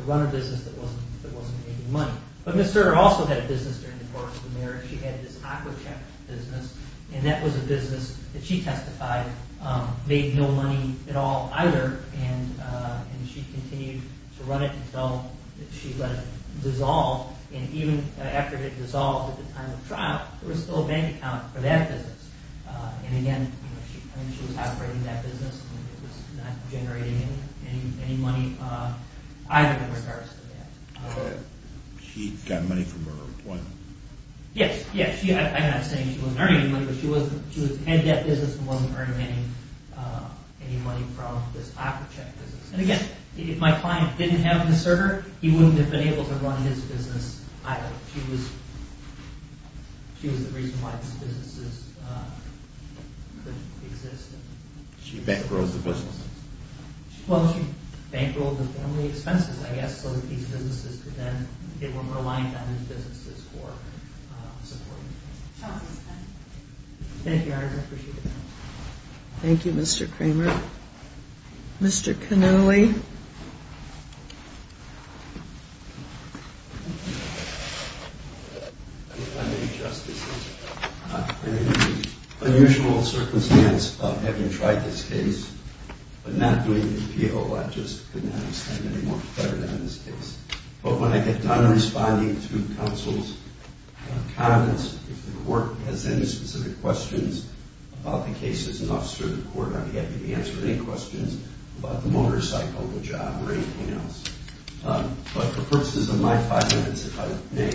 run a business that wasn't making money. But Ms. Serger also had a business during the course of the marriage. She had this Aquachat business, and that was a business that she testified made no money at all either, and she continued to run it until she let it dissolve. And even after it dissolved at the time of trial, there was still a bank account for that business. And again, she was operating that business, and it was not generating any money either in regards to that. She got money from her employment? Yes, yes. I'm not saying she wasn't earning any money, but she was heading that business and wasn't earning any money from this Aquachat business. And again, if my client didn't have Ms. Serger, he wouldn't have been able to run his business either. She was the reason why his businesses couldn't exist. She bankrolled the businesses? Well, she bankrolled the family expenses, I guess, so that these businesses could then rely on his businesses for support. Thank you, Your Honor. I appreciate it. Thank you, Mr. Kramer. Mr. Cannulli. Thank you, Justice Ginsburg. It's an unusual circumstance of having tried this case but not doing the appeal. I just couldn't understand it any more better than this case. But when I get done responding to counsel's comments, if the court has any specific questions about the case, as an officer of the court, I'm happy to answer any questions about the motorcycle, the job, or anything else. But for purposes of my five minutes, if I may,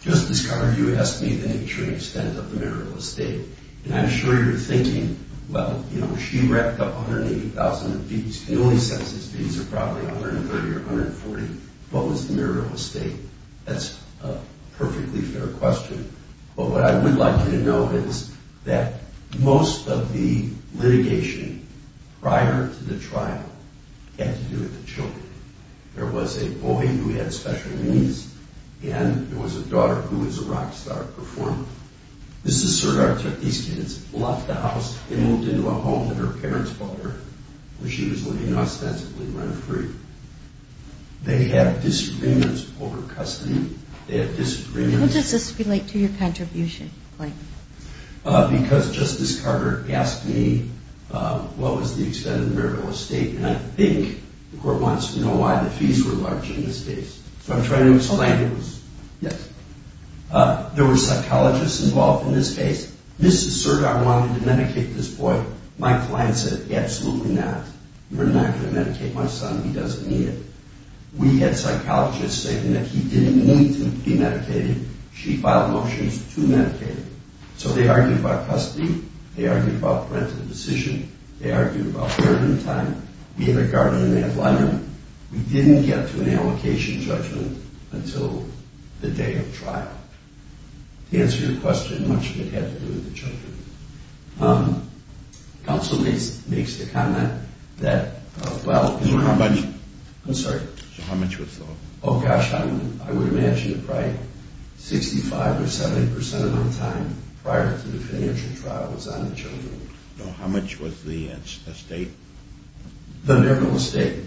Justice Conner, you asked me the nature and extent of the marital estate. And I'm sure you're thinking, well, you know, she racked up $180,000 in fees. Cannulli's census fees are probably $130,000 or $140,000. What was the marital estate? That's a perfectly fair question. But what I would like you to know is that most of the litigation prior to the trial had to do with the children. There was a boy who had special needs, and there was a daughter who was a rock star performer. This is sort of how these kids left the house and moved into a home that her parents bought her They have disagreements over custody. How does this relate to your contribution, Clayton? Because Justice Carter asked me what was the extent of the marital estate, and I think the court wants to know why the fees were large in this case. So I'm trying to explain. There were psychologists involved in this case. This is certain I wanted to medicate this boy. My client said, absolutely not. You're not going to medicate my son. He doesn't need it. We had psychologists saying that he didn't need to be medicated. She filed motions to medicate him. So they argued about custody. They argued about parental decision. They argued about burden time. We had a guardian in that line room. We didn't get to an allocation judgment until the day of trial. To answer your question, much of it had to do with the children. Counsel makes the comment that, well, So how much? I'm sorry. So how much was all? Oh, gosh, I would imagine that probably 65 or 70 percent of my time prior to the financial trial was on the children. How much was the estate? The marital estate.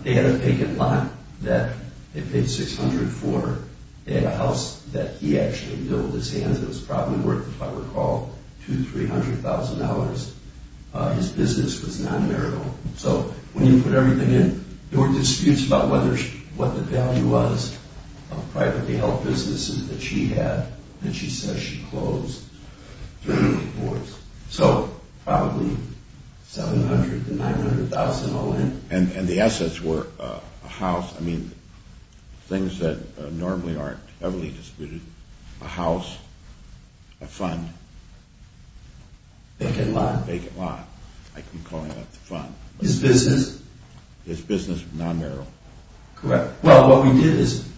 They had a vacant lot that they paid 600 for. They had a house that he actually built with his hands. It was probably worth, if I recall, $200,000, $300,000. His business was non-marital. So when you put everything in, there were disputes about what the value was of privately held businesses that she had that she says she closed during the war. So probably $700,000 to $900,000 all in. And the assets were a house. I mean, things that normally aren't heavily disputed. A house, a fund. Vacant lot? Vacant lot. I keep calling that the fund. His business? His business was non-marital. Correct. Well, what we did is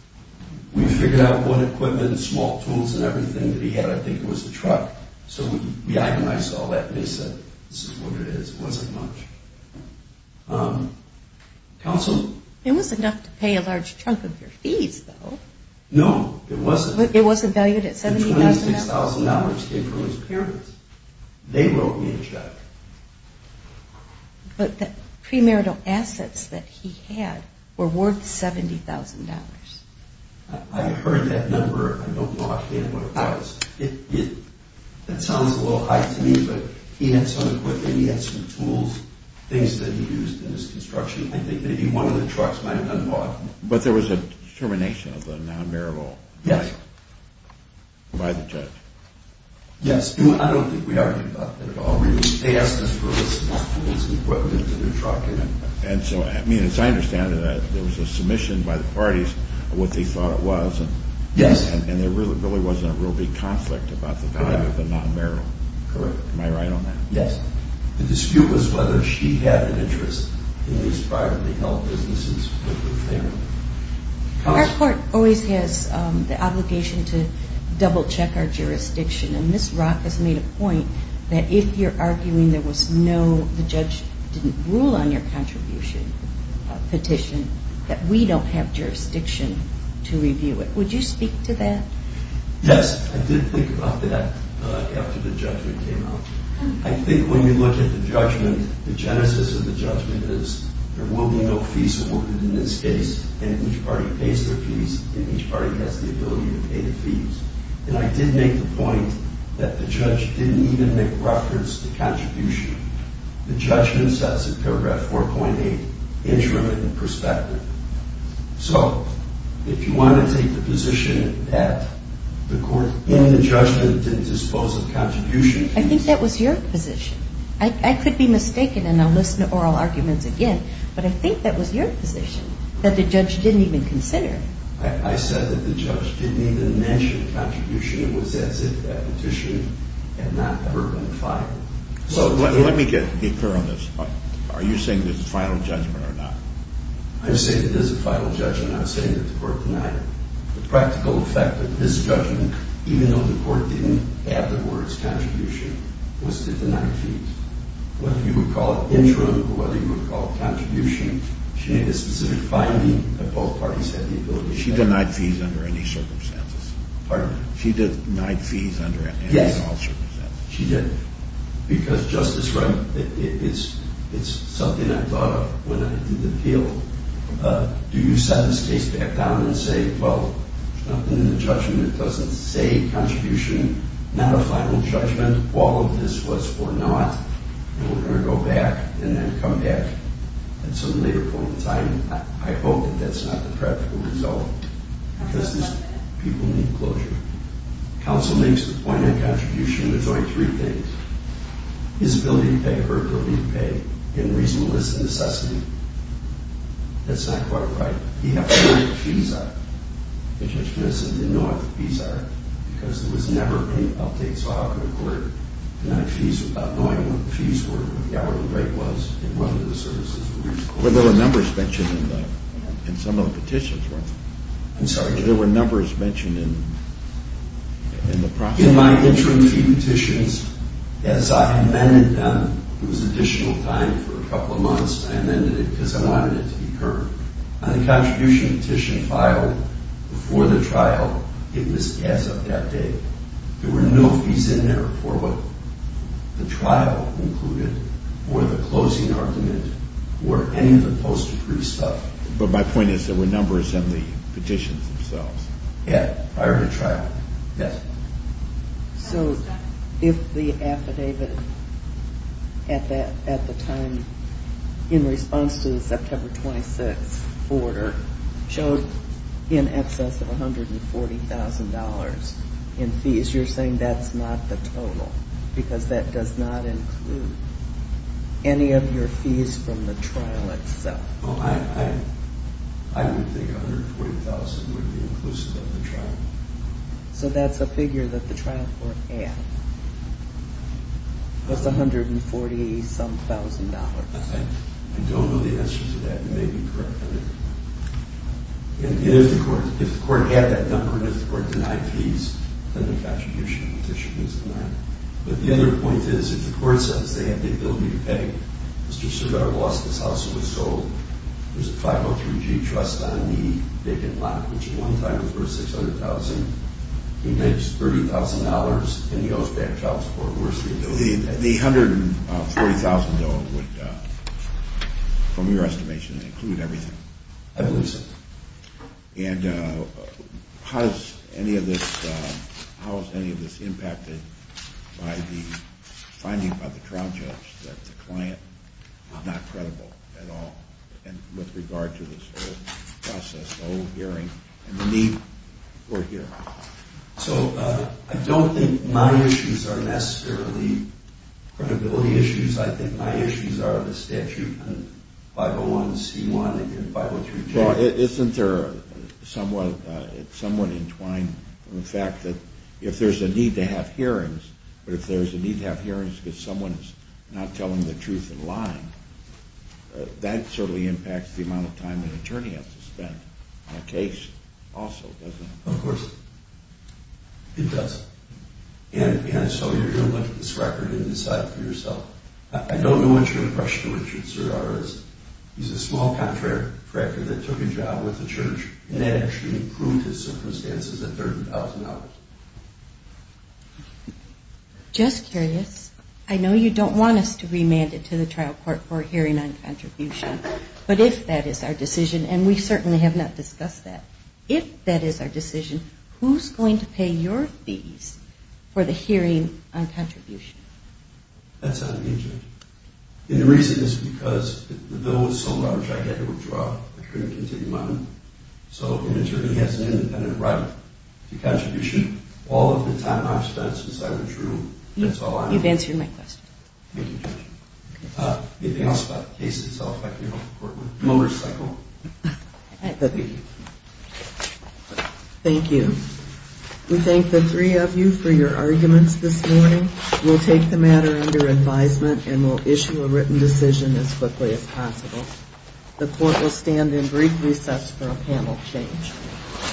we figured out what equipment and small tools and everything that he had. I think it was the truck. So we agonized all that, and they said this is what it is. It wasn't much. Counsel? It was enough to pay a large chunk of your fees, though. No, it wasn't. It wasn't valued at $70,000? The $26,000 came from his appearance. They wrote me a check. But the premarital assets that he had were worth $70,000. I heard that number. I don't know how to get what it was. It sounds a little high to me, but he had some equipment, he had some tools, things that he used in his construction. I think maybe one of the trucks might have been bought. But there was a termination of the non-marital right by the judge. Yes. I don't think we argued about that at all. They asked us for the small tools and equipment in the truck. And so, I mean, as I understand it, there was a submission by the parties of what they thought it was. Yes. And there really wasn't a real big conflict about the value of the non-marital. Correct. Am I right on that? Yes. The dispute was whether she had an interest in these privately held businesses. Our court always has the obligation to double-check our jurisdiction. And Ms. Rock has made a point that if you're arguing there was no, the judge didn't rule on your contribution petition, that we don't have jurisdiction to review it. Would you speak to that? Yes. I did think about that after the judgment came out. I think when you look at the judgment, the genesis of the judgment is there will be no fees awarded in this case, and each party pays their fees, and each party has the ability to pay the fees. And I did make the point that the judge didn't even make reference to contribution. The judgment says in paragraph 4.8, interim and prospective. So, if you want to take the position that the court in the judgment didn't dispose of contribution, I think that was your position. I could be mistaken, and I'll listen to oral arguments again, but I think that was your position that the judge didn't even consider. I said that the judge didn't even mention contribution. It was as if that petition had not ever been filed. So, let me get clear on this. Are you saying this is final judgment or not? I'm saying it is a final judgment. I'm saying that the court denied it. The practical effect of this judgment, even though the court didn't add the words contribution, was to deny fees. Whether you would call it interim or whether you would call it contribution, she made a specific finding that both parties had the ability to pay. She denied fees under any circumstances. Pardon me? She denied fees under any and all circumstances. Yes, she did. Because, Justice Wright, it's something I thought of when I did the appeal. Do you set this case back down and say, well, there's nothing in the judgment that doesn't say contribution, not a final judgment, all of this was or not, and we're going to go back and then come back at some later point in time? I hope that that's not the practical result because these people need closure. Counsel makes the point on contribution. There's only three things. His ability to pay, her ability to pay, and reasonableness of necessity. That's not quite right. He had to know what the fees are. The judge said he didn't know what the fees are because there was never an update so how could a court deny fees without knowing what the fees were, what the hourly rate was, and whether the services were reasonable. Well, there were numbers mentioned in some of the petitions, weren't there? I'm sorry? There were numbers mentioned in the process. In my interim fee petitions, as I amended them, it was additional time for a couple of months. I amended it because I wanted it to be heard. On the contribution petition filed before the trial, it was as of that day. There were no fees in there for what the trial included or the closing argument or any of the post-decree stuff. But my point is there were numbers in the petitions themselves. Yeah, prior to trial. Yes? So if the affidavit at the time in response to the September 26th order showed in excess of $140,000 in fees, you're saying that's not the total because that does not include any of your fees from the trial itself. Well, I would think $140,000 would be inclusive of the trial. So that's a figure that the trial court had. It was $140-some-thousand. I don't know the answer to that. You may be correct on that. If the court had that number and if the court denied fees, then the contribution petition is denied. But the other point is if the court says they have the ability to pay, Mr. Cervera lost his house and was sold. There's a 503-G trust on the vacant lot, which he one time referred $600,000. He makes $30,000 and he owes that child support. The $140,000 would, from your estimation, include everything. I believe so. And how is any of this impacted by the finding by the trial judge that the client is not credible at all with regard to this whole process, the whole hearing and the need for a hearing? So I don't think my issues are necessarily credibility issues. I think my issues are the statute and 501c1 and 503-G. Well, isn't there somewhat entwined in the fact that if there's a need to have hearings, but if there's a need to have hearings because someone is not telling the truth and lying, that certainly impacts the amount of time an attorney has to spend on a case also, doesn't it? Of course it does. And so you're going to look at this record and decide for yourself. I don't know what your impression of Richard Cervera is. He's a small contractor that took a job with the church and actually proved his circumstances at $30,000. Just curious, I know you don't want us to remand it to the trial court for a hearing on contribution, but if that is our decision, and we certainly have not discussed that, if that is our decision, who's going to pay your fees for the hearing on contribution? That's not an issue. And the reason is because the bill was so large I had to withdraw it. I couldn't continue on it. So an attorney has an independent right to contribution all of the time I've spent since I withdrew. That's all I know. You've answered my question. Thank you, Judge. Anything else about the case itself? Motorcycle. Thank you. We thank the three of you for your arguments this morning. We'll take the matter under advisement and we'll issue a written decision as quickly as possible. The court will stand in brief recess for a panel exchange.